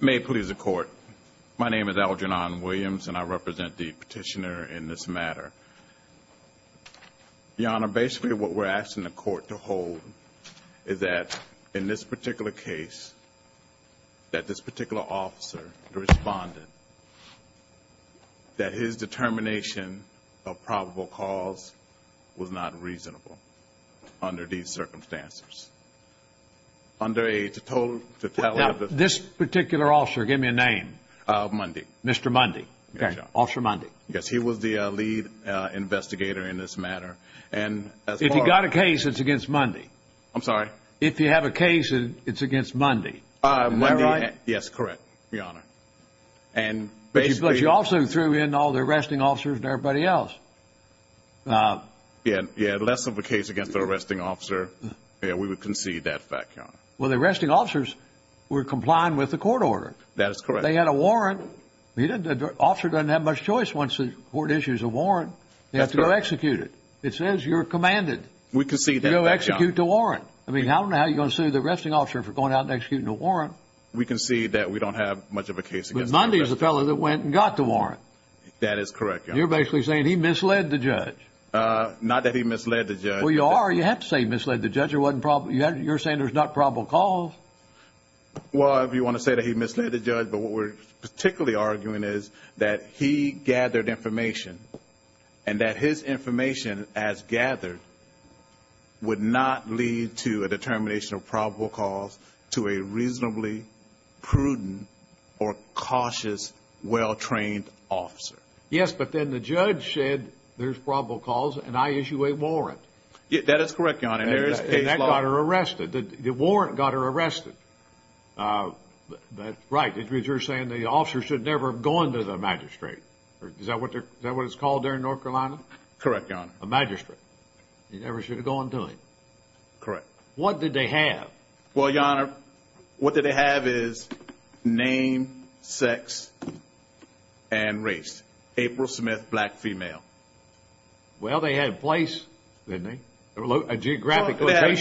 May it please the court. My name is Algernon Williams and I represent the petitioner in this matter. Your honor, basically what we're asking the court to hold is that in this particular case that this particular officer responded that his determination of probable cause was not in circumstances under a total fatality. This particular officer, give me a name. Mundy. Mr. Mundy. Okay. Officer Mundy. Yes. He was the lead investigator in this matter. If you got a case, it's against Mundy. I'm sorry? If you have a case, it's against Mundy. Am I right? Yes, correct. Your honor. But you also threw in all the arresting officers and everybody else. Less of a case against the arresting officer, we would concede that fact, your honor. Well, the arresting officers were complying with the court order. That is correct. They had a warrant. The officer doesn't have much choice once the court issues a warrant. They have to go execute it. It says you're commanded. We concede that fact, your honor. You go execute the warrant. I mean, I don't know how you're going to sue the arresting officer for going out and executing a warrant. We concede that we don't have much of a case against the arresting officer. Mundy's the fellow that went and got the warrant. That is correct, your honor. Your Honor, you're basically saying he misled the judge. Not that he misled the judge. Well, you are. You have to say he misled the judge. It wasn't probable. You're saying there's not probable cause. Well, if you want to say that he misled the judge, but what we're particularly arguing is that he gathered information and that his information as gathered would not lead to a determination of probable cause to a reasonably prudent or cautious, well-trained officer. Yes, but then the judge said there's probable cause and I issue a warrant. That is correct, your honor. And that got her arrested. The warrant got her arrested. Right. That means you're saying the officer should never have gone to the magistrate. Is that what it's called there in North Carolina? Correct, your honor. A magistrate. He never should have gone to him. Correct. What did they have? Well, your honor, what did they have is name, sex, and race. April Smith, black female. Well, they had a place, didn't they? A geographic location.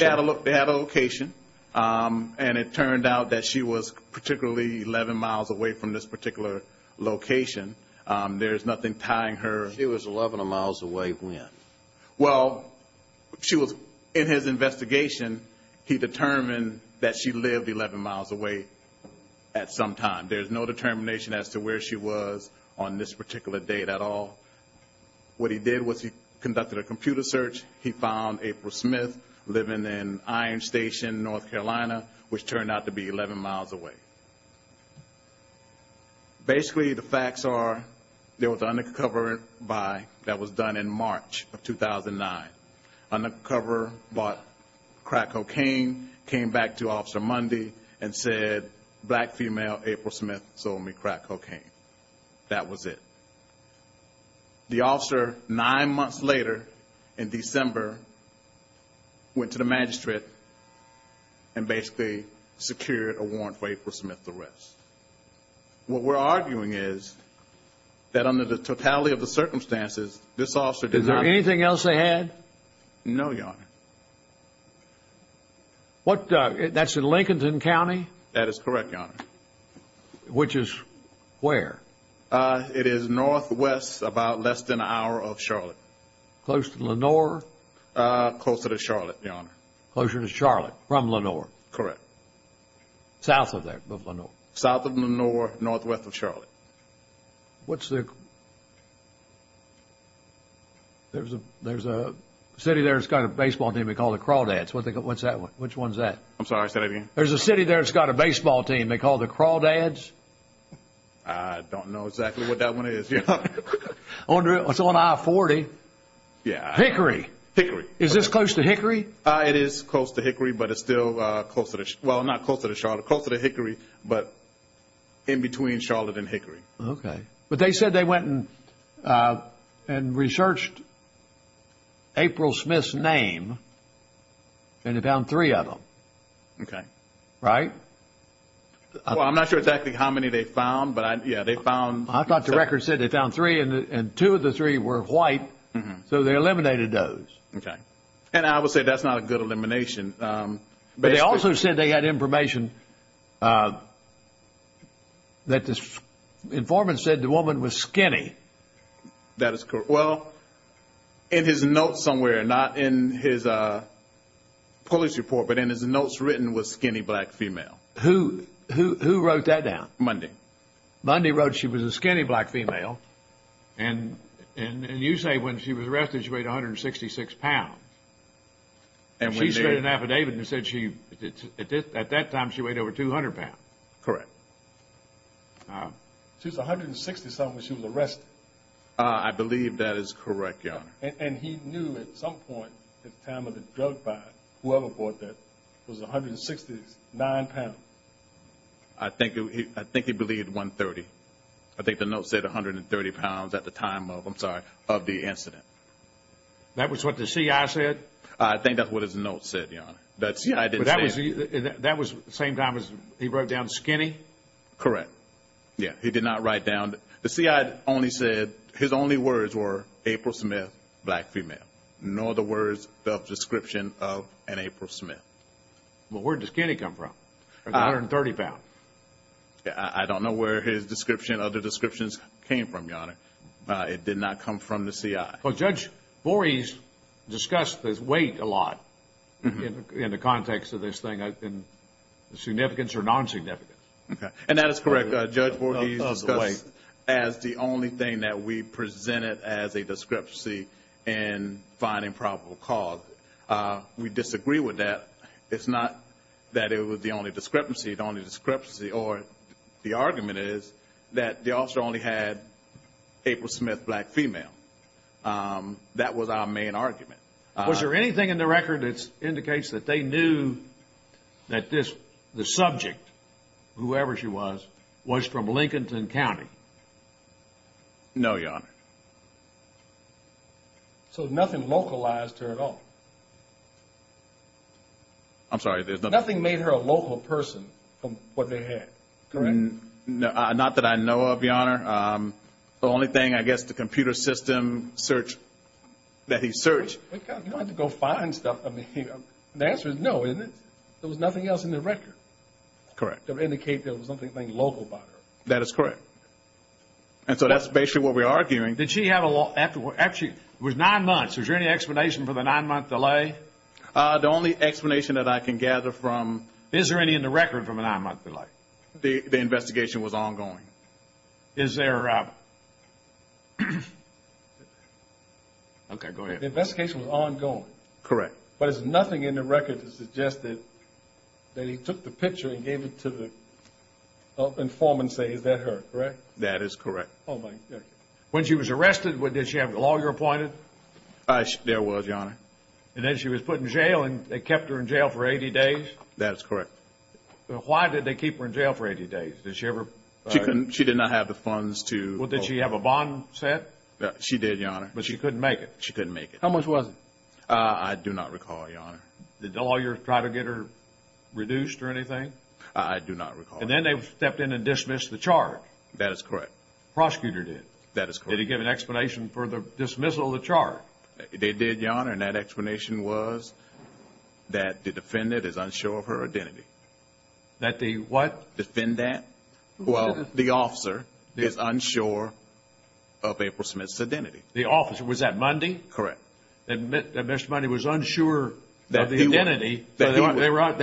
They had a location. And it turned out that she was particularly 11 miles away from this particular location. There's nothing tying her. She was 11 miles away when? Well, she was, in his investigation, he determined that she lived 11 miles away at some time. There's no determination as to where she was on this particular date at all. What he did was he conducted a computer search. He found April Smith living in Iron Station, North Carolina, which turned out to be 11 miles away. Basically, the facts are there was an undercover buy that was done in March of 2009. Undercover bought crack cocaine, came back to Officer Mundy and said, black female, April Smith sold me crack cocaine. That was it. The officer, nine months later, in December, went to the magistrate and basically secured a warrant for April Smith's arrest. What we're arguing is that under the totality of the circumstances, this officer did not Is there anything else they had? No, Your Honor. That's in Lincolnton County? That is correct, Your Honor. Which is where? It is northwest, about less than an hour of Charlotte. Close to Lenore? Closer to Charlotte, Your Honor. Closer to Charlotte, from Lenore? Correct. South of there? Of Lenore? South of Lenore, northwest of Charlotte. What's the... There's a city there that's got a baseball team they call the Crawdads. What's that one? Which one's that? I'm sorry. Say that again? There's a city there that's got a baseball team they call the Crawdads? I don't know exactly what that one is, Your Honor. It's on I-40. Yeah. Hickory? Hickory. Is this close to Hickory? It is close to Hickory, but it's still closer to... Well, not closer to Charlotte. Closer to Hickory, but in between Charlotte and Hickory. Okay. But they said they went and researched April Smith's name, and they found three of them. Okay. Right? Well, I'm not sure exactly how many they found, but yeah, they found... I thought the record said they found three, and two of the three were white, so they eliminated those. Okay. And I would say that's not a good elimination. Basically... But they also said they had information that this informant said the woman was skinny. That is correct. Well, in his notes somewhere, not in his police report, but in his notes written, was skinny black female. Who wrote that down? Mundy. Mundy wrote she was a skinny black female, and you say when she was arrested, she weighed 166 pounds. And when they... She said in an affidavit, it said she... At that time, she weighed over 200 pounds. Correct. She was 160-something when she was arrested. I believe that is correct, Your Honor. And he knew at some point at the time of the drug buy, whoever bought that, was 169 pounds. I think he believed 130. I think the note said 130 pounds at the time of, I'm sorry, of the incident. That was what the CI said? I think that's what his note said, Your Honor. The CI didn't say... But that was the same time as he wrote down skinny? Correct. Yeah. He did not write down... The CI only said... His only words were April Smith, black female. No other words of description of an April Smith. Well, where did the skinny come from? 130 pounds. I don't know where his description, other descriptions came from, Your Honor. It did not come from the CI. Judge Voorhees discussed this weight a lot in the context of this thing, in the significance or non-significance. Okay. And that is correct. Judge Voorhees discussed it as the only thing that we presented as a discrepancy in finding probable cause. We disagree with that. It's not that it was the only discrepancy. The only discrepancy or the argument is that the officer only had April Smith, black female. That was our main argument. Was there anything in the record that indicates that they knew that this, the subject, whoever she was, was from Lincolnton County? No, Your Honor. So nothing localized her at all? I'm sorry, there's nothing... from what they had, correct? Not that I know of, Your Honor. The only thing, I guess, the computer system search, that he searched... You don't have to go find stuff. I mean, the answer is no, isn't it? There was nothing else in the record to indicate there was something local about her. That is correct. And so that's basically what we're arguing. Did she have a... actually, it was nine months. Is there any explanation for the nine-month delay? The only explanation that I can gather from... is there any in the record from a nine-month delay? The investigation was ongoing. Is there... Okay, go ahead. The investigation was ongoing. Correct. But there's nothing in the record to suggest that he took the picture and gave it to the informant and say, is that her, correct? That is correct. When she was arrested, did she have the lawyer appointed? There was, Your Honor. And then she was put in jail and they kept her in jail for 80 days? That is correct. Why did they keep her in jail for 80 days? Did she ever... She did not have the funds to... Did she have a bond set? She did, Your Honor. But she couldn't make it? She couldn't make it. How much was it? I do not recall, Your Honor. Did the lawyer try to get her reduced or anything? I do not recall. And then they stepped in and dismissed the charge? That is correct. The prosecutor did? That is correct. Did he give an explanation for the dismissal of the charge? They did, Your Honor. And that explanation was that the defendant is unsure of her identity. That the what? Defendant. Well, the officer is unsure of April Smith's identity. The officer. Was that Mundy? Correct. That Mr. Mundy was unsure of the identity, so they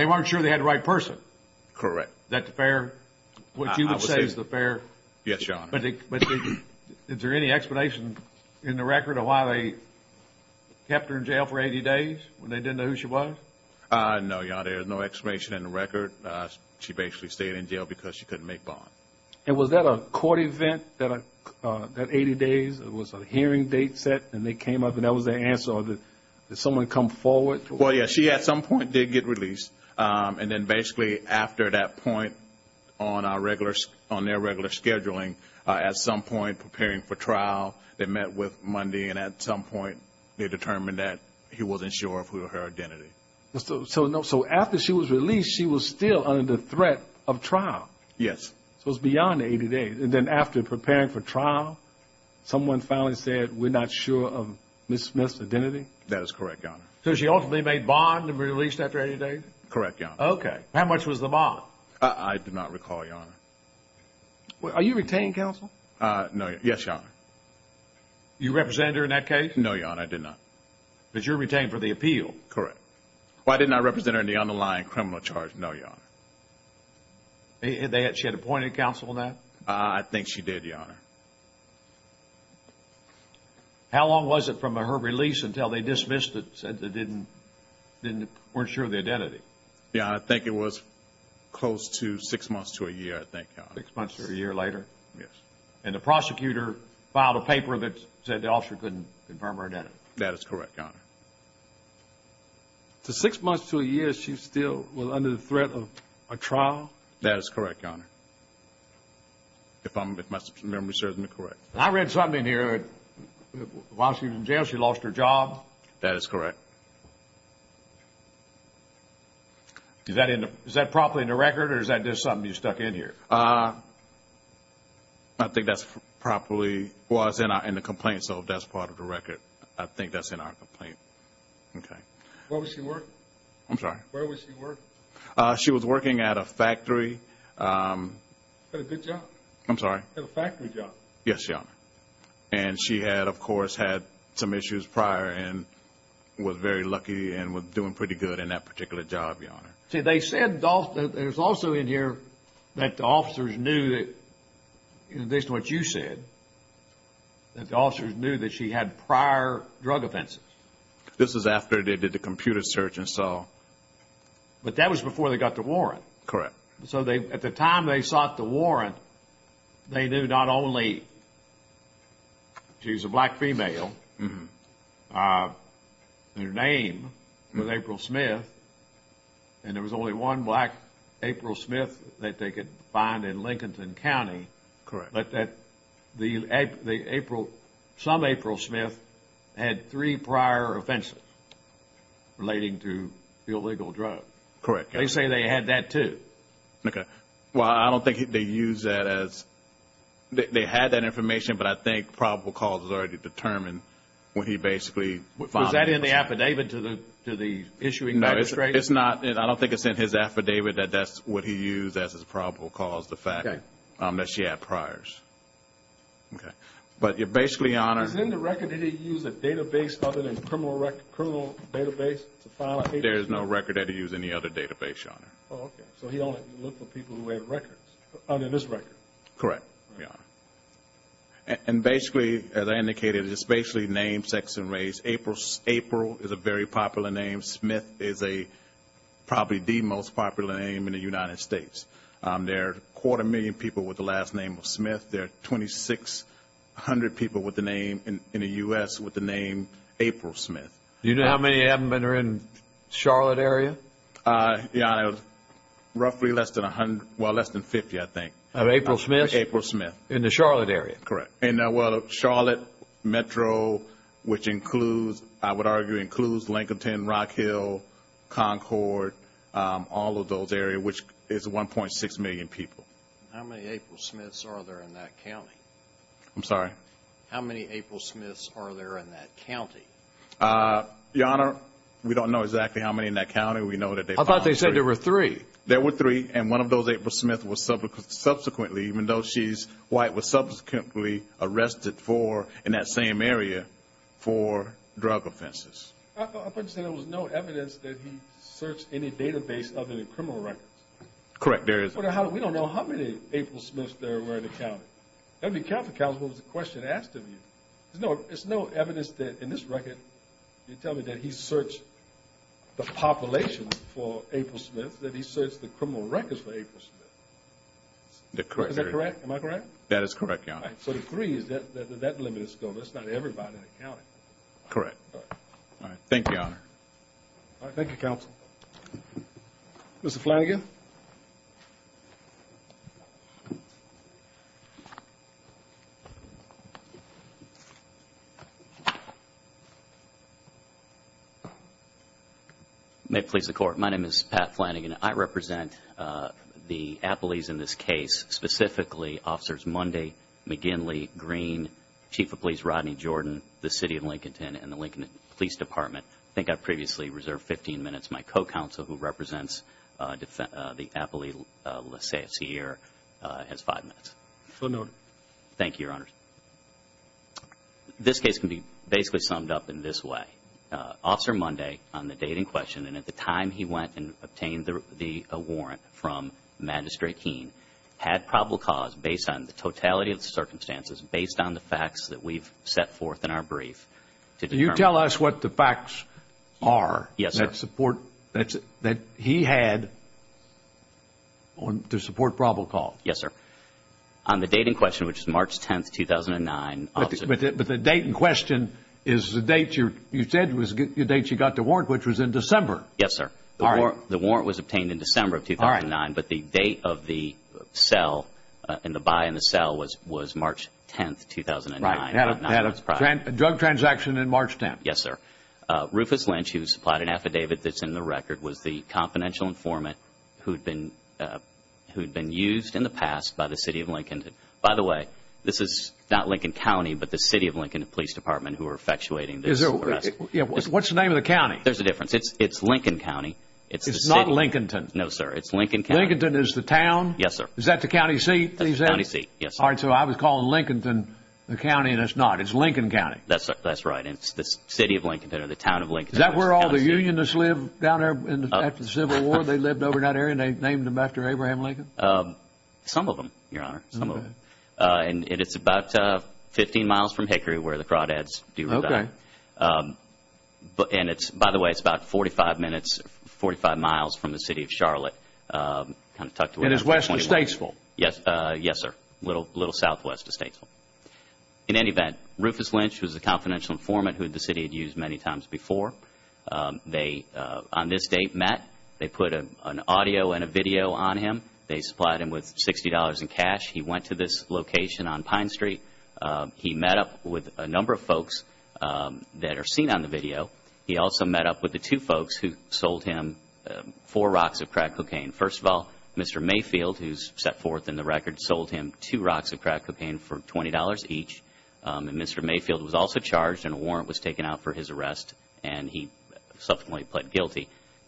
weren't sure they had the right person? Correct. That's fair, what you would say is fair? Yes, Your Honor. But is there any explanation in the record of why they kept her in jail for 80 days when they didn't know who she was? No, Your Honor. There is no explanation in the record. She basically stayed in jail because she couldn't make bond. And was that a court event, that 80 days, it was a hearing date set and they came up and that was the answer or did someone come forward? Well, yes. She at some point did get released. And then basically after that point on their regular scheduling, at some point preparing for trial, they met with Mundy and at some point they determined that he wasn't sure of her identity. So after she was released, she was still under threat of trial? Yes. So it was beyond 80 days. And then after preparing for trial, someone finally said, we're not sure of Ms. Smith's identity? That is correct, Your Honor. So she ultimately made bond and released after 80 days? Correct, Your Honor. Okay. How much was the bond? I do not recall, Your Honor. Are you a retained counsel? No. Yes, Your Honor. You represented her in that case? No, Your Honor. I did not. But you're retained for the appeal? Correct. Why didn't I represent her in the underlying criminal charge? No, Your Honor. She had appointed counsel on that? I think she did, Your Honor. How long was it from her release until they dismissed it, said they weren't sure of the identity? Yeah, I think it was close to six months to a year, I think, Your Honor. Six months to a year later? Yes. And the prosecutor filed a paper that said the officer couldn't confirm her identity? That is correct, Your Honor. So six months to a year, she still was under the threat of a trial? That is correct, Your Honor. If my memory serves me correct. I read something in here, while she was in jail, she lost her job? That is correct. Is that properly in the record, or is that just something you stuck in here? I think that's properly in the complaint, so that's part of the record. I think that's in our complaint. Okay. Where was she working? I'm sorry? Where was she working? She was working at a factory. At a good job? I'm sorry? At a factory job? Yes, Your Honor. And she had, of course, had some issues prior and was very lucky and was doing pretty good in that particular job, Your Honor. See, they said, there's also in here that the officers knew that, in addition to what you said, that the officers knew that she had prior drug offenses? This is after they did the computer search and saw. But that was before they got the warrant? Correct. So at the time they sought the warrant, they knew not only she's a black female, her name was April Smith, and there was only one black April Smith that they could find in Lincolnton County. Correct. But that the April, some April Smith, had three prior offenses relating to illegal drugs. Correct. They say they had that, too. Okay. Well, I don't think they used that as, they had that information, but I think probable cause was already determined when he basically was found. Was that in the affidavit to the issuing magistrate? No, it's not. I don't think it's in his affidavit that that's what he used as his probable cause, the fact that she had priors. Okay. But you're basically, Your Honor. Is in the record, did he use a database other than the criminal record, criminal database to file a case? There is no record that he used any other database, Your Honor. Oh, okay. So he only looked for people who had records, under this record? Correct, Your Honor. And basically, as I indicated, it's basically name, sex, and race. April is a very popular name. Smith is a, probably the most popular name in the United States. There are a quarter million people with the last name of Smith. There are 2,600 people with the name, in the U.S., with the name April Smith. Do you know how many admin are in Charlotte area? Your Honor, roughly less than a hundred, well, less than 50, I think. Of April Smith? April Smith. In the Charlotte area? Correct. And well, Charlotte Metro, which includes, I would argue, includes Lincolnton, Rock Hill, Concord, all of those areas, which is 1.6 million people. How many April Smiths are there in that county? I'm sorry? How many April Smiths are there in that county? Your Honor, we don't know exactly how many in that county. We know that they found three. I thought they said there were three. There were three. And one of those, April Smith, was subsequently, even though she's white, was subsequently arrested for, in that same area, for drug offenses. I thought you said there was no evidence that he searched any database of any criminal records. Correct, there is. Well, how, we don't know how many April Smiths there were in the county. That would be counter-countable if it was a question asked of you. There's no evidence that, in this record, you tell me that he searched the population for April Smiths, that he searched the criminal records for April Smiths. Correct. Is that correct? Am I correct? That is correct, Your Honor. So the three, that limit is gone. That's not everybody in the county. Correct. All right. Thank you, Your Honor. All right. Thank you, Counsel. Mr. Flanagan? May it please the Court. My name is Pat Flanagan. I represent the appellees in this case, specifically Officers Mundy, McGinley, Green, Chief of Police Rodney Jordan, the City of Lincolnton, and the Lincoln Police Department. I think I previously reserved 15 minutes. My co-counsel, who represents the appellee, let's say it's here, has five minutes. So noted. Thank you, Your Honor. This case can be basically summed up in this way. Officer Mundy, on the date in question, and at the time he went and obtained the warrant from Magistrate Keene, had probable cause based on the totality of the circumstances, based on the facts that we've set forth in our brief. Can you tell us what the facts are? Yes, sir. That support, that he had to support probable cause? Yes, sir. On the date in question, which is March 10th, 2009. But the date in question is the date you said was the date you got the warrant, which was in December. Yes, sir. The warrant was obtained in December of 2009, but the date of the buy and the sell was March 10th, 2009. Right. He had a drug transaction in March 10th. Yes, sir. Rufus Lynch, who supplied an affidavit that's in the record, was the confidential informant who'd been used in the past by the City of Lincoln. By the way, this is not Lincoln County, but the City of Lincoln Police Department who are effectuating this arrest. What's the name of the county? There's a difference. It's Lincoln County. It's not Lincolnton. No, sir. It's Lincoln County. Lincolnton is the town? Yes, sir. Is that the county seat that he's in? That's the county seat, yes. All right. So I was calling Lincoln the county, and it's not. It's Lincoln County. That's right. It's the City of Lincoln or the Town of Lincoln. Is that where all the Unionists lived down there after the Civil War? They lived over in that area, and they named them after Abraham Lincoln? Some of them, Your Honor. Some of them. Okay. And it's about 15 miles from Hickory, where the Crawdads do reside. Okay. And it's, by the way, it's about 45 minutes, 45 miles from the City of Charlotte. And it's west of Statesville? Yes, sir. A little southwest of Statesville. In any event, Rufus Lynch was the confidential informant who the City had used many times before. They, on this date, met. They put an audio and a video on him. They supplied him with $60 in cash. He went to this location on Pine Street. He met up with a number of folks that are seen on the video. He also met up with the two folks who sold him four rocks of crack cocaine. First of all, Mr. Mayfield, who's set forth in the record, sold him two rocks of crack cocaine for $20 each. And Mr. Mayfield was also charged and a warrant was taken out for his arrest. And he subsequently pled guilty.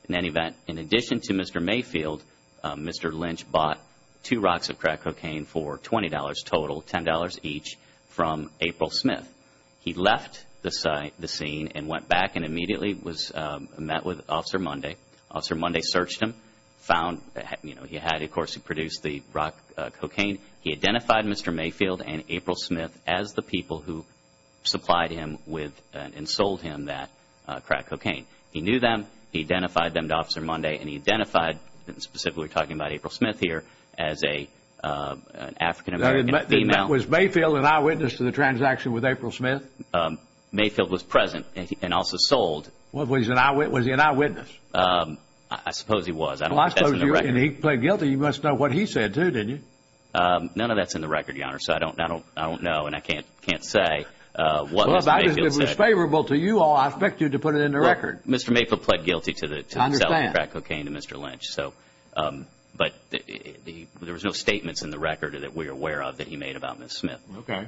In any event, in addition to Mr. Mayfield, Mr. Lynch bought two rocks of crack cocaine for $20 total, $10 each, from April Smith. He left the scene and went back and immediately was met with Officer Munday. Officer Munday searched him, found, you know, he had, of course, produced the rock cocaine. He identified Mr. Mayfield and April Smith as the people who supplied him with and sold him that crack cocaine. He knew them. He identified them to Officer Munday. And he identified, specifically talking about April Smith here, as an African-American female. Was Mayfield an eyewitness to the transaction with April Smith? Mayfield was present and also sold. Was he an eyewitness? I suppose he was. I don't know if that's in the record. And he pled guilty. You must know what he said, too, didn't you? None of that's in the record, Your Honor. So I don't know and I can't say what Mr. Mayfield said. Well, if it was favorable to you all, I expect you to put it in the record. Mr. Mayfield pled guilty to selling crack cocaine to Mr. Lynch. I understand. But there was no statements in the record that we are aware of that he made about Ms. Smith. Okay.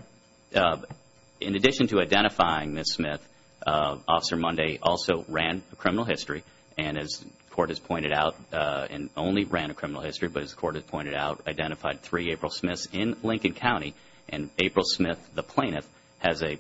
In addition to identifying Ms. Smith, Officer Munday also ran a criminal history. And as the Court has pointed out, and only ran a criminal history, but as the Court has pointed out, identified three April Smiths in Lincoln County. And April Smith, the plaintiff, has a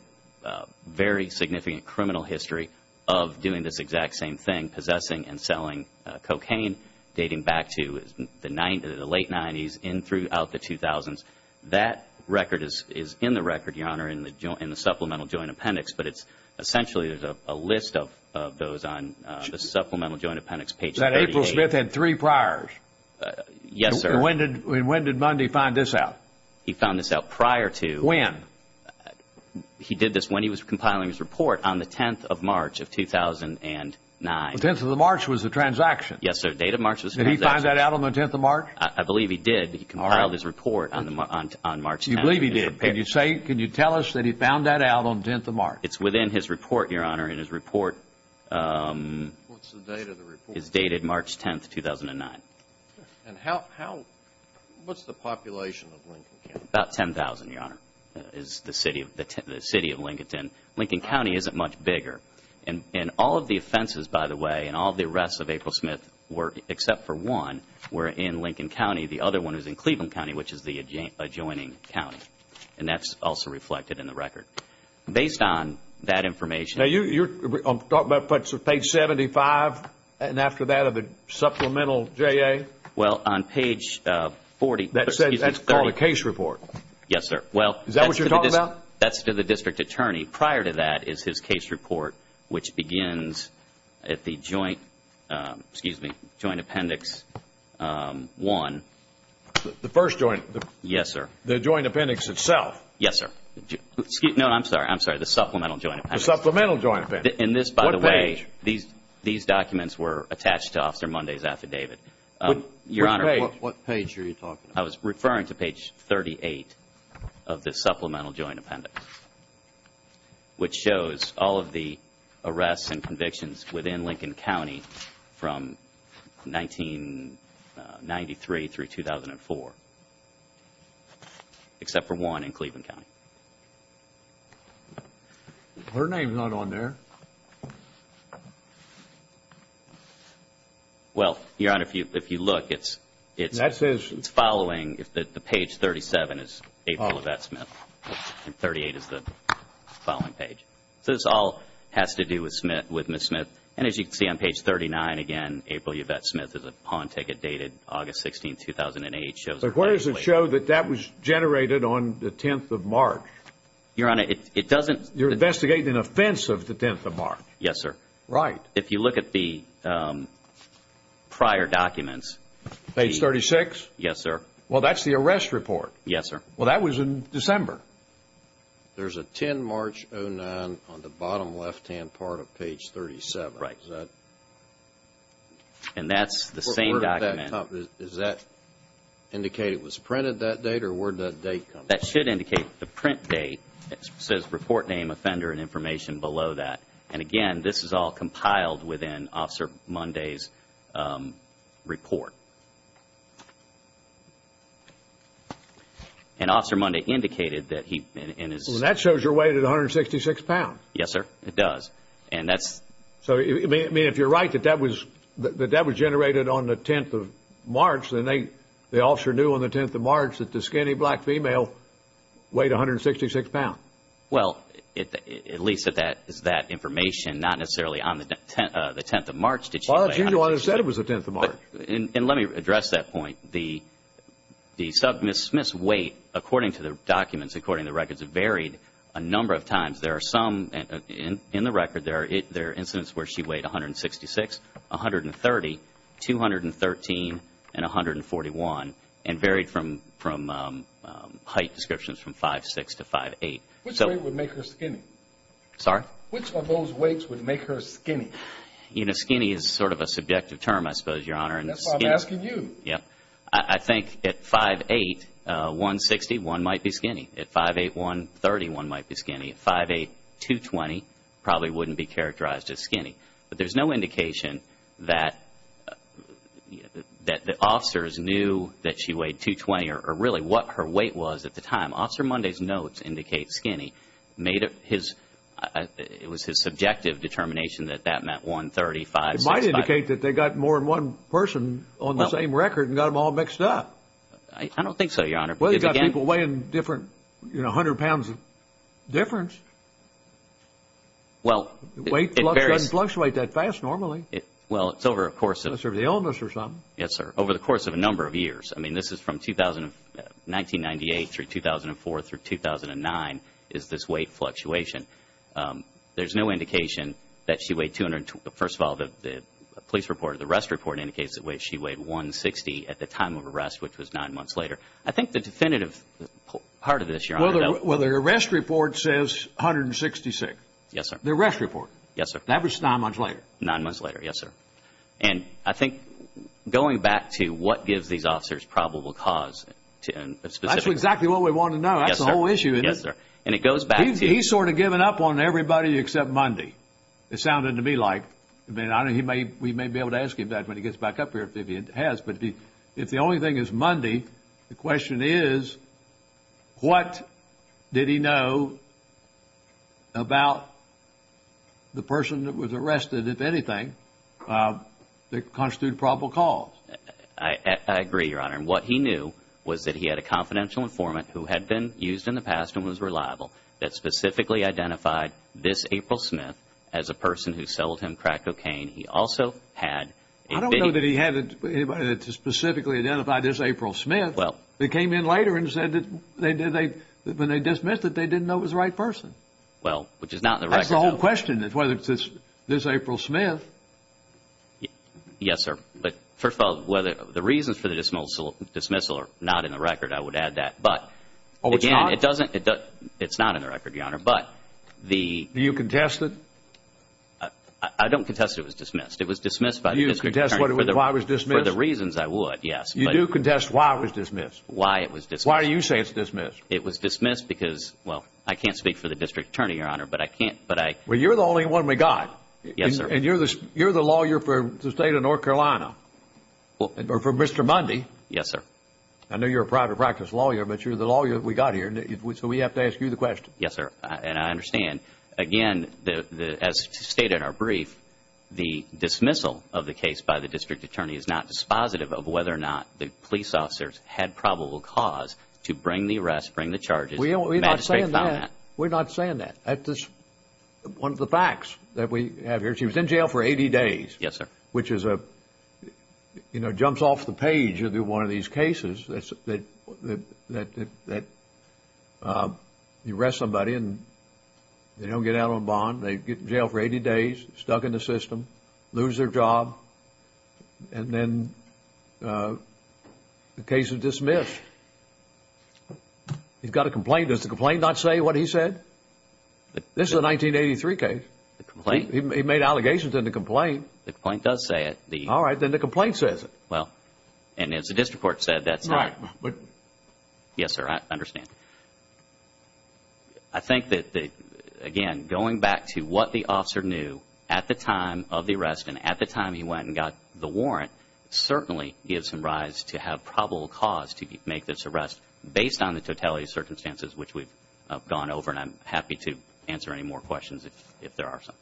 very significant criminal history of doing this exact same thing, possessing and selling cocaine dating back to the late 90s and throughout the 2000s. That record is in the record, Your Honor, in the Supplemental Joint Appendix. But it's essentially a list of those on the Supplemental Joint Appendix, page 38. That April Smith had three priors. Yes, sir. And when did Munday find this out? He found this out prior to... When? He did this when he was compiling his report, on the 10th of March of 2009. The 10th of March was the transaction. Yes, sir. The date of March was the transaction. Did he find that out on the 10th of March? I believe he did. He compiled his report on March 10th. You believe he did. Can you tell us that he found that out on the 10th of March? It's within his report, Your Honor, and his report... What's the date of the report? ...is dated March 10th, 2009. And how... what's the population of Lincoln County? About 10,000, Your Honor, is the city of Lincolnton. Lincoln County isn't much bigger. And all of the offenses, by the way, and all of the arrests of April Smith, except for one, were in Lincoln County. The other one is in Cleveland County, which is the adjoining county. And that's also reflected in the record. Based on that information... Now, you're talking about page 75 and after that of the supplemental JA? Well, on page 40... That's called a case report. Yes, sir. Is that what you're talking about? That's to the district attorney. Prior to that is his case report, which begins at the Joint Appendix 1. The first Joint... Yes, sir. The Joint Appendix itself? Yes, sir. No, I'm sorry. I'm sorry. The Supplemental Joint Appendix. The Supplemental Joint Appendix. And this, by the way... What page? These documents were attached to Officer Monday's affidavit. Your Honor... Which page? What page are you talking about? I was referring to page 38 of the Supplemental Joint Appendix, which shows all of the arrests and convictions within Lincoln County from 1993 through 2004, except for one in Cleveland County. Her name's not on there. Well, Your Honor, if you look, it's... That says... It's following... The page 37 is April Yvette Smith and 38 is the following page. So this all has to do with Smith, with Ms. Smith. And as you can see on page 39 again, April Yvette Smith is a pawn ticket dated August 16, 2008. But where does it show that that was generated on the 10th of March? Your Honor, it doesn't... You're investigating an offense of the 10th of March. Yes, sir. Right. If you look at the prior documents... Page 36? Yes, sir. Well, that's the arrest report. Yes, sir. Well, that was in December. There's a 10-March-09 on the bottom left-hand part of page 37. Right. Is that... And that's the same document. Is that indicate it was printed that date or where'd that date come from? That should indicate the print date. It says report name, offender, and information below that. And again, this is all compiled within Officer Munday's report. And Officer Munday indicated that he... Well, that shows your weight at 166 pounds. Yes, sir. It does. And that's... So, I mean, if you're right that that was generated on the 10th of March, then the officer knew on the 10th of March that the skinny black female weighed 166 pounds. Well, at least that is that information, not necessarily on the 10th of March. Well, that's usually when it's said it was the 10th of March. And let me address that point. The submissive weight, according to the documents, according to the records, varied a number of times. There are some, in the record, there are incidents where she weighed 166, 130, 213, and 141, and varied from height descriptions from 5'6 to 5'8. Which weight would make her skinny? Sorry? Which of those weights would make her skinny? You know, skinny is sort of a subjective term, I suppose, Your Honor. That's why I'm asking you. Yeah. I think at 5'8, 160, one might be skinny. At 5'8, 130, one might be skinny. At 5'8, 220, probably wouldn't be characterized as skinny. But there's no indication that the officers knew that she weighed 220 or really what her weight was at the time. Officer Monday's notes indicate skinny. It was his subjective determination that that meant 130, 5'6, 5'8. It might indicate that they got more than one person on the same record and got them all mixed up. I don't think so, Your Honor. Well, they've got people weighing different, you know, 100 pounds of difference. Well, it varies. Weight doesn't fluctuate that fast normally. Well, it's over a course of... It's over the illness or something. Yes, sir. Over the course of a number of years. I mean, this is from 1998 through 2004 through 2009 is this weight fluctuation. There's no indication that she weighed 220. First of all, the police report, the arrest report, indicates that she weighed 160 at the time of arrest, which was nine months later. I think the definitive part of this, Your Honor... Well, the arrest report says 166. Yes, sir. The arrest report. Yes, sir. That was nine months later. Nine months later. Yes, sir. And I think going back to what gives these officers probable cause to a specific... That's exactly what we want to know. Yes, sir. And it goes back to... He's sort of given up on everybody except Mundy. It sounded to me like... I mean, we may be able to ask him that when he gets back up here if he has. But if the only thing is Mundy, the question is what did he know about the person that was arrested, if anything, that constituted probable cause? I agree, Your Honor. And what he knew was that he had a confidential informant who had been used in the past and was reliable that specifically identified this April Smith as a person who sold him crack cocaine. He also had... I don't know that he had anybody that specifically identified this April Smith that came in later and said that when they dismissed it, they didn't know it was the right person. Well, which is not in the record. That's the whole question is whether it's this April Smith. Yes, sir. But first of all, the reasons for the dismissal are not in the record, I would add that. But again, it's not in the record, Your Honor. Do you contest it? I don't contest it was dismissed. It was dismissed by the district attorney... Do you contest why it was dismissed? For the reasons, I would, yes. You do contest why it was dismissed? Why it was dismissed. Why do you say it's dismissed? It was dismissed because, well, I can't speak for the district attorney, Your Honor, but I can't... Well, you're the only one we got. Yes, sir. And you're the lawyer for the state of North Carolina or for Mr. Mundy. Yes, sir. I know you're a private practice lawyer, but you're the lawyer that we got here. So we have to ask you the question. Yes, sir. And I understand. Again, as stated in our brief, the dismissal of the case by the district attorney is not dispositive of whether or not the police officers had probable cause to bring the arrest, bring the charges. We're not saying that. We're not saying that. That's just one of the facts that we have here. She was in jail for 80 days. Yes, sir. Which is, you know, jumps off the page of one of these cases that you arrest somebody and they don't get out on bond, they get in jail for 80 days, stuck in the system, lose their job, and then the case is dismissed. He's got a complaint. Does the complaint not say what he said? This is a 1983 case. He made allegations in the complaint. The complaint does say it. All right. Then the complaint says it. Well, and as the district court said, that's not... Right. Yes, sir. I understand. I think that, again, going back to what the officer knew at the time of the arrest and at the time he went and got the warrant certainly gives him rise to have probable cause to make this arrest based on the totality of circumstances which we've gone over. And I'm happy to answer any more questions if there are some.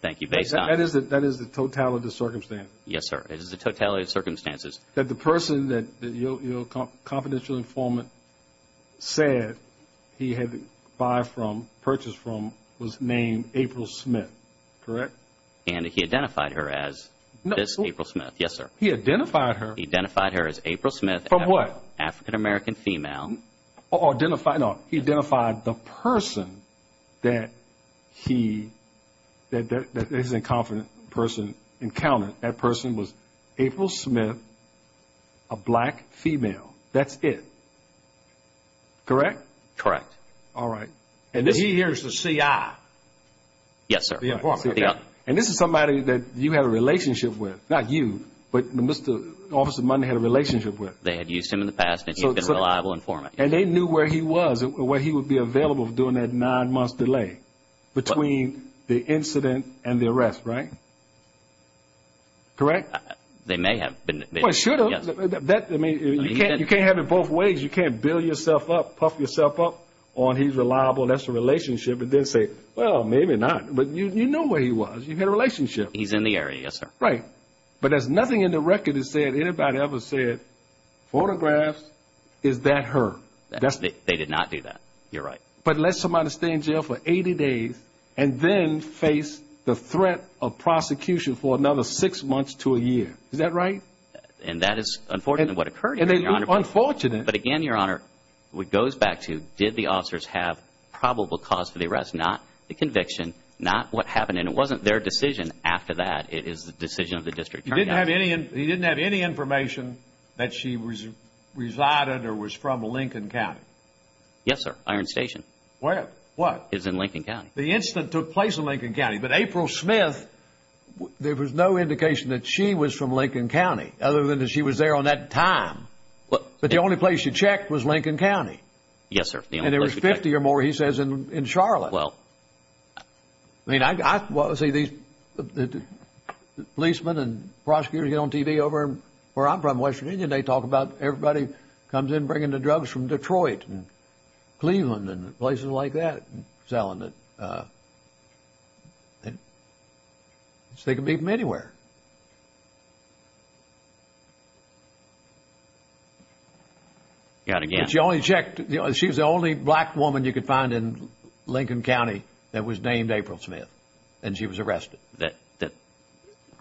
Thank you. Based on... That is the totality of circumstances? Yes, sir. It is the totality of circumstances. That the person that your confidential informant said he had purchased from was named April Smith. Correct? And he identified her as Miss April Smith. No. Yes, sir. He identified her... He identified her as April Smith. From what? African-American female. Oh, identified... No, he identified the person that he... that his inconfident person encountered. That person was April Smith, a black female. That's it. Correct? Correct. All right. And he hears the C.I. Yes, sir. The informant. And this is somebody that you had a relationship with. Not you, but Mr. Officer Mudden had a relationship with. They had used him in the past and he's been a reliable informant. And they knew where he was and where he would be available during that nine-month delay between the incident and the arrest, right? Correct? They may have been... Well, they should have. Yes. I mean, you can't have it both ways. You can't build yourself up, puff yourself up on he's reliable, that's a relationship, and then say, well, maybe not. But you knew where he was. You had a relationship. He's in the area, yes, sir. Right. But there's nothing in the record that said anybody ever said photographs, is that her? They did not do that. You're right. But let somebody stay in jail for 80 days and then face the threat of prosecution for another six months to a year. Is that right? And that is unfortunately what occurred, Your Honor. And they were unfortunate. But again, Your Honor, it goes back to did the officers have probable cause for the arrest? Not the conviction, not what happened. And it wasn't their decision after that, it is the decision of the district attorney. He didn't have any information that she resided or was from Lincoln County? Yes, sir. Iron Station. Where? What? It's in Lincoln County. The incident took place in Lincoln County. But April Smith, there was no indication that she was from Lincoln County other than that she was there on that time. But the only place you checked was Lincoln County. Yes, sir. And there was 50 or more, he says, in Charlotte. Well. I mean, I, well, see, these policemen and prosecutors get on TV over where I'm from, West Virginia, and they talk about everybody comes in bringing the drugs from Detroit and Cleveland and places like that and selling it. And they can be from anywhere. You got to get. She only checked, you know, she was the only black woman you could find in Lincoln County that was named April Smith, and she was arrested. That, that,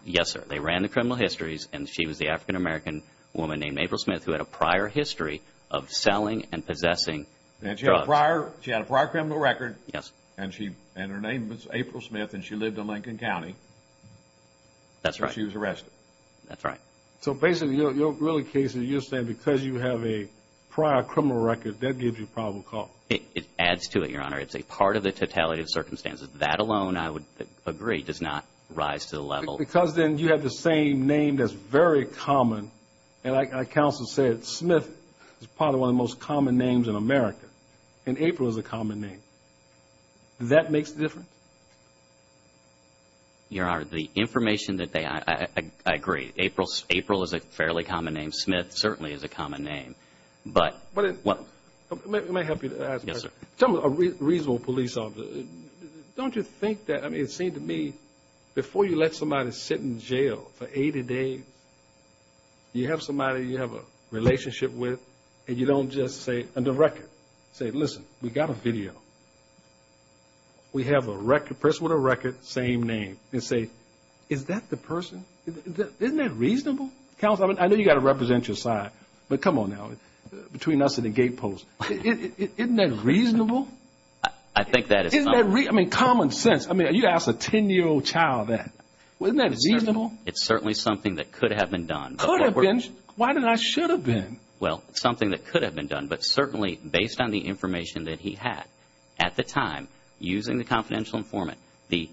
yes, sir. They ran the criminal histories and she was the African-American woman named April Smith who had a prior history of selling and possessing drugs. And she had a prior, she had a prior criminal record. Yes. And she, and her name was April Smith and she lived in Lincoln County. That's right. And she was arrested. That's right. So basically, your, your, really Casey, you're saying because you have a prior criminal record, that gives you probable cause. It, it adds to it, Your Honor. It's a part of the totality of circumstances. That alone, I would agree, does not rise to the level. Well, because then you have the same name that's very common and I, I counsel said Smith is probably one of the most common names in America and April is a common name. That makes a difference? Your Honor, the information that they, I, I, I agree. April, April is a fairly common name. Smith certainly is a common name. But, but it, well, let me help you. Yes, sir. Tell me, a reasonable police officer, don't you think that, I mean, it seemed to me before you let somebody sit in jail for 80 days, you have somebody you have a relationship with and you don't just say under record, say, listen, we got a video. We have a record, person with a record, same name, and say, is that the person? Isn't that reasonable? Counsel, I mean, I know you got a representative side, but come on now, between us and the gate post, isn't that reasonable? I, I think that is, isn't that, I mean, common sense. I mean, you ask a 10-year-old child that, well, isn't that reasonable? It's certainly something that could have been done. Could have been? Why did I, should have been? Well, it's something that could have been done, but certainly, based on the information that he had at the time, using the confidential informant, the,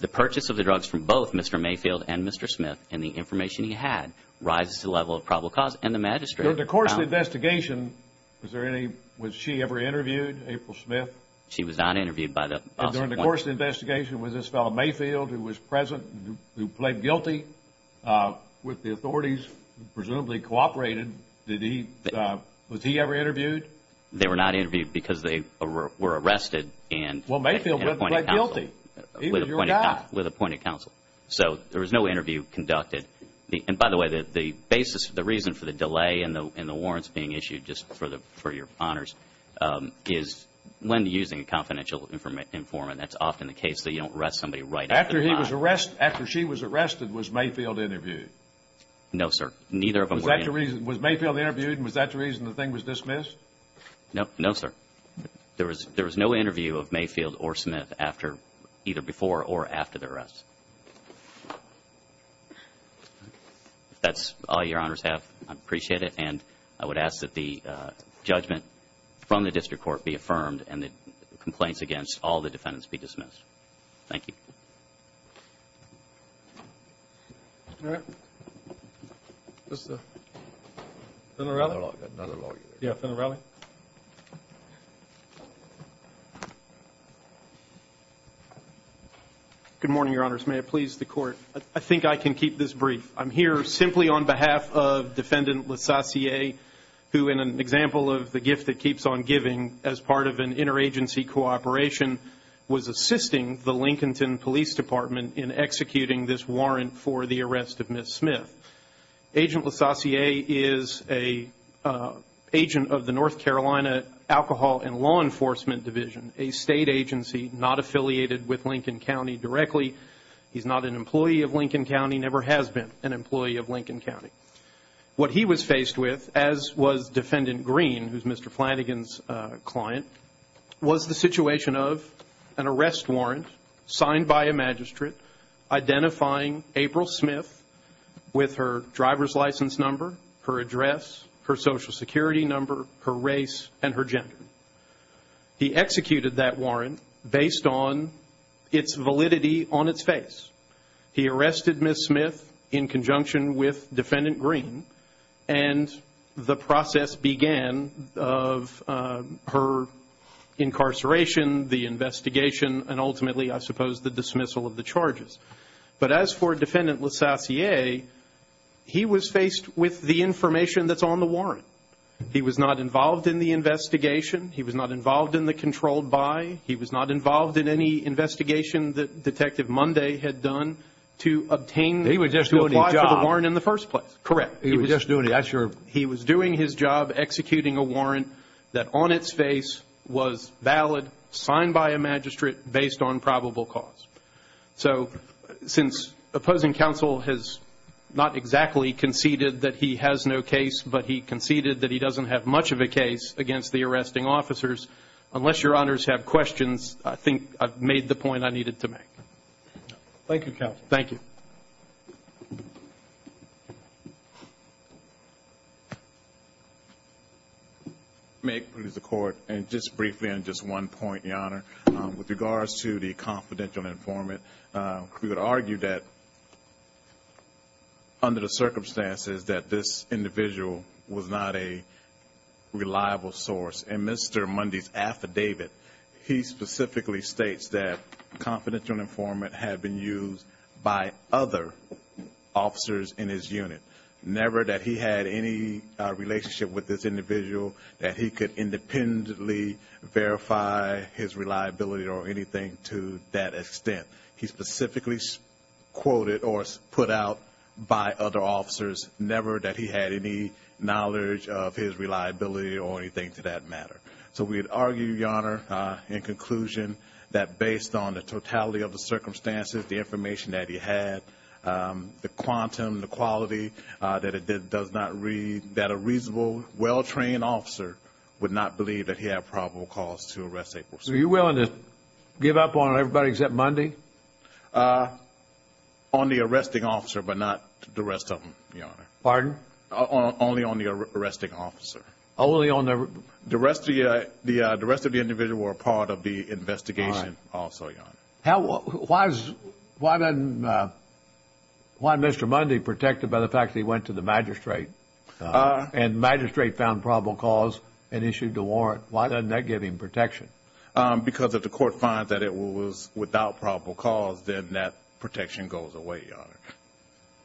the purchase of the drugs from both Mr. Mayfield and Mr. Smith and the information he had rises to the level of probable cause and the magistrate found... During the course of the investigation, was there any, was she ever interviewed, April Smith? She was not interviewed by the officer. During the course of the investigation, was this fellow Mayfield who was present, who, who pled guilty with the authorities who presumably cooperated, did he, was he ever interviewed? They were not interviewed because they were, were arrested and... Well, Mayfield pled guilty. He was your guy. With appointed counsel. So, there was no interview conducted. The, by the way, the, the basis, the reason for the delay in the, in the warrants being issued just for the, for your honors is when using a confidential informant, that's often the case that you don't arrest somebody right after... After he was arrested, after she was arrested, was Mayfield interviewed? No, sir. Neither of them... Was that the reason, was Mayfield interviewed and was that the reason the thing was dismissed? No, no, sir. There was, there was no interview of Mayfield or Smith after, either before or after the arrest. If that's all your honors have, I'd appreciate it and I would ask that the judgment from the district court be affirmed and the complaints against all the defendants be dismissed. Thank you. All right. Mr. Fennerelli? Another lawyer. Yeah, Fennerelli? Good morning, your honors. May it please the court. I think I can keep this brief. I'm here simply on behalf of Defendant LeSassier, who in an example of the gift that keeps on giving as part of an interagency cooperation was assisting the Lincolnton Police Department Department of Justice and is a lawyer in the North Carolina Department of Justice and is a lawyer in the North Carolina Department of Justice and is a lawyer in the North Carolina Department of Justice in the North Carolina Alcohol and Law Enforcement Division, a state agency not affiliated with Lincoln County directly. He's not an employee of Lincoln County, never has been an employee of Lincoln County. What he was faced with as was Defendant Green, who's Mr. Flanagan's client, identifying April Smith with her driver's license number, her address, her social security number, her residence number, and her address and her address and her address and her residence number and her race and her gender. He executed that warrant based on its validity on its face. He arrested Ms. Smith in conjunction with Defendant Green and the process the investigation, and ultimately I suppose the dismissal of the charges. of the investigation, and ultimately I suppose the dismissal of the charges. But as for Defendant LeSassier, he was faced with the information that's on the warrant. He was not involved in the investigation. He was not involved in the controlled by. He was not involved in any investigation that Detective Monday had done to obtain to apply to the warrant in the first place. He was just doing his job. Correct. He was just doing his job executing a warrant executing a warrant that on its face that on its face signed by a magistrate, based on probable cause. based on probable cause. So since opposing counsel has not exactly conceded that he has no case that he has no case but he conceded but he conceded that he doesn't have much of a case against the arresting officers, unless your honors have questions, I think I've made the point I needed to make. Thank you, counsel. Thank you. introduce the court introduce the court and just briefly and just briefly on just one point, Your Honor. on just one point, Your Honor. With regards to the confidential informant, we would argue that under the circumstances that this individual was not a was not a reliable source in Mr. Mundy's affidavit, he specifically states that confidential informant had been used by other officers in his unit. in his unit. Never that he had any relationship with this individual that he could independently verify his reliability or anything to that extent. to that extent. He specifically quoted or put out by other officers never that he had any knowledge of his reliability or anything to that matter. So we would argue, Your Honor, in conclusion that based on the totality of the circumstances, the information that he had, the quantum, the quality that it does not read that a reasonable well-trained officer would not believe that he had probable cause to arrest a person. Are you willing to give up on everybody except Mundy? On the arresting officer but not the rest of them, Your Honor. Pardon? Only on the arresting officer. Only on the... The rest of the individual were a part of the investigation also, Your Honor. How... Why is... Why then... Why Mr. Mundy protected by the fact that he went to the magistrate and the magistrate found probable cause and issued a warrant? Why doesn't that give him protection? Because if the court finds that it was without probable cause then that protection goes away, Your Honor.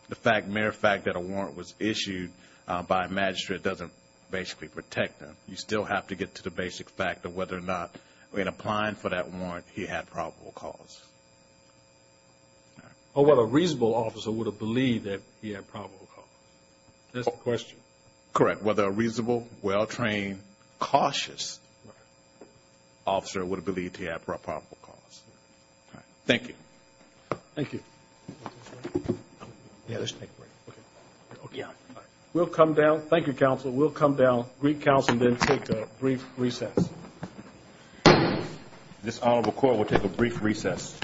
The fact... Matter of fact that a warrant was issued by a magistrate doesn't basically protect them. You still have to get to the basic fact of whether or not in applying for that warrant he had probable cause. All right. Oh, whether a reasonable officer would have believed that he had probable cause. That's the question. Correct. Whether a reasonable, well-trained, cautious officer would have believed he had probable cause. All right. Thank you. Thank you. We'll come down. Thank you, Counsel. We'll come down, Greek Council, and then take a brief recess. This honorable court will take a brief recess.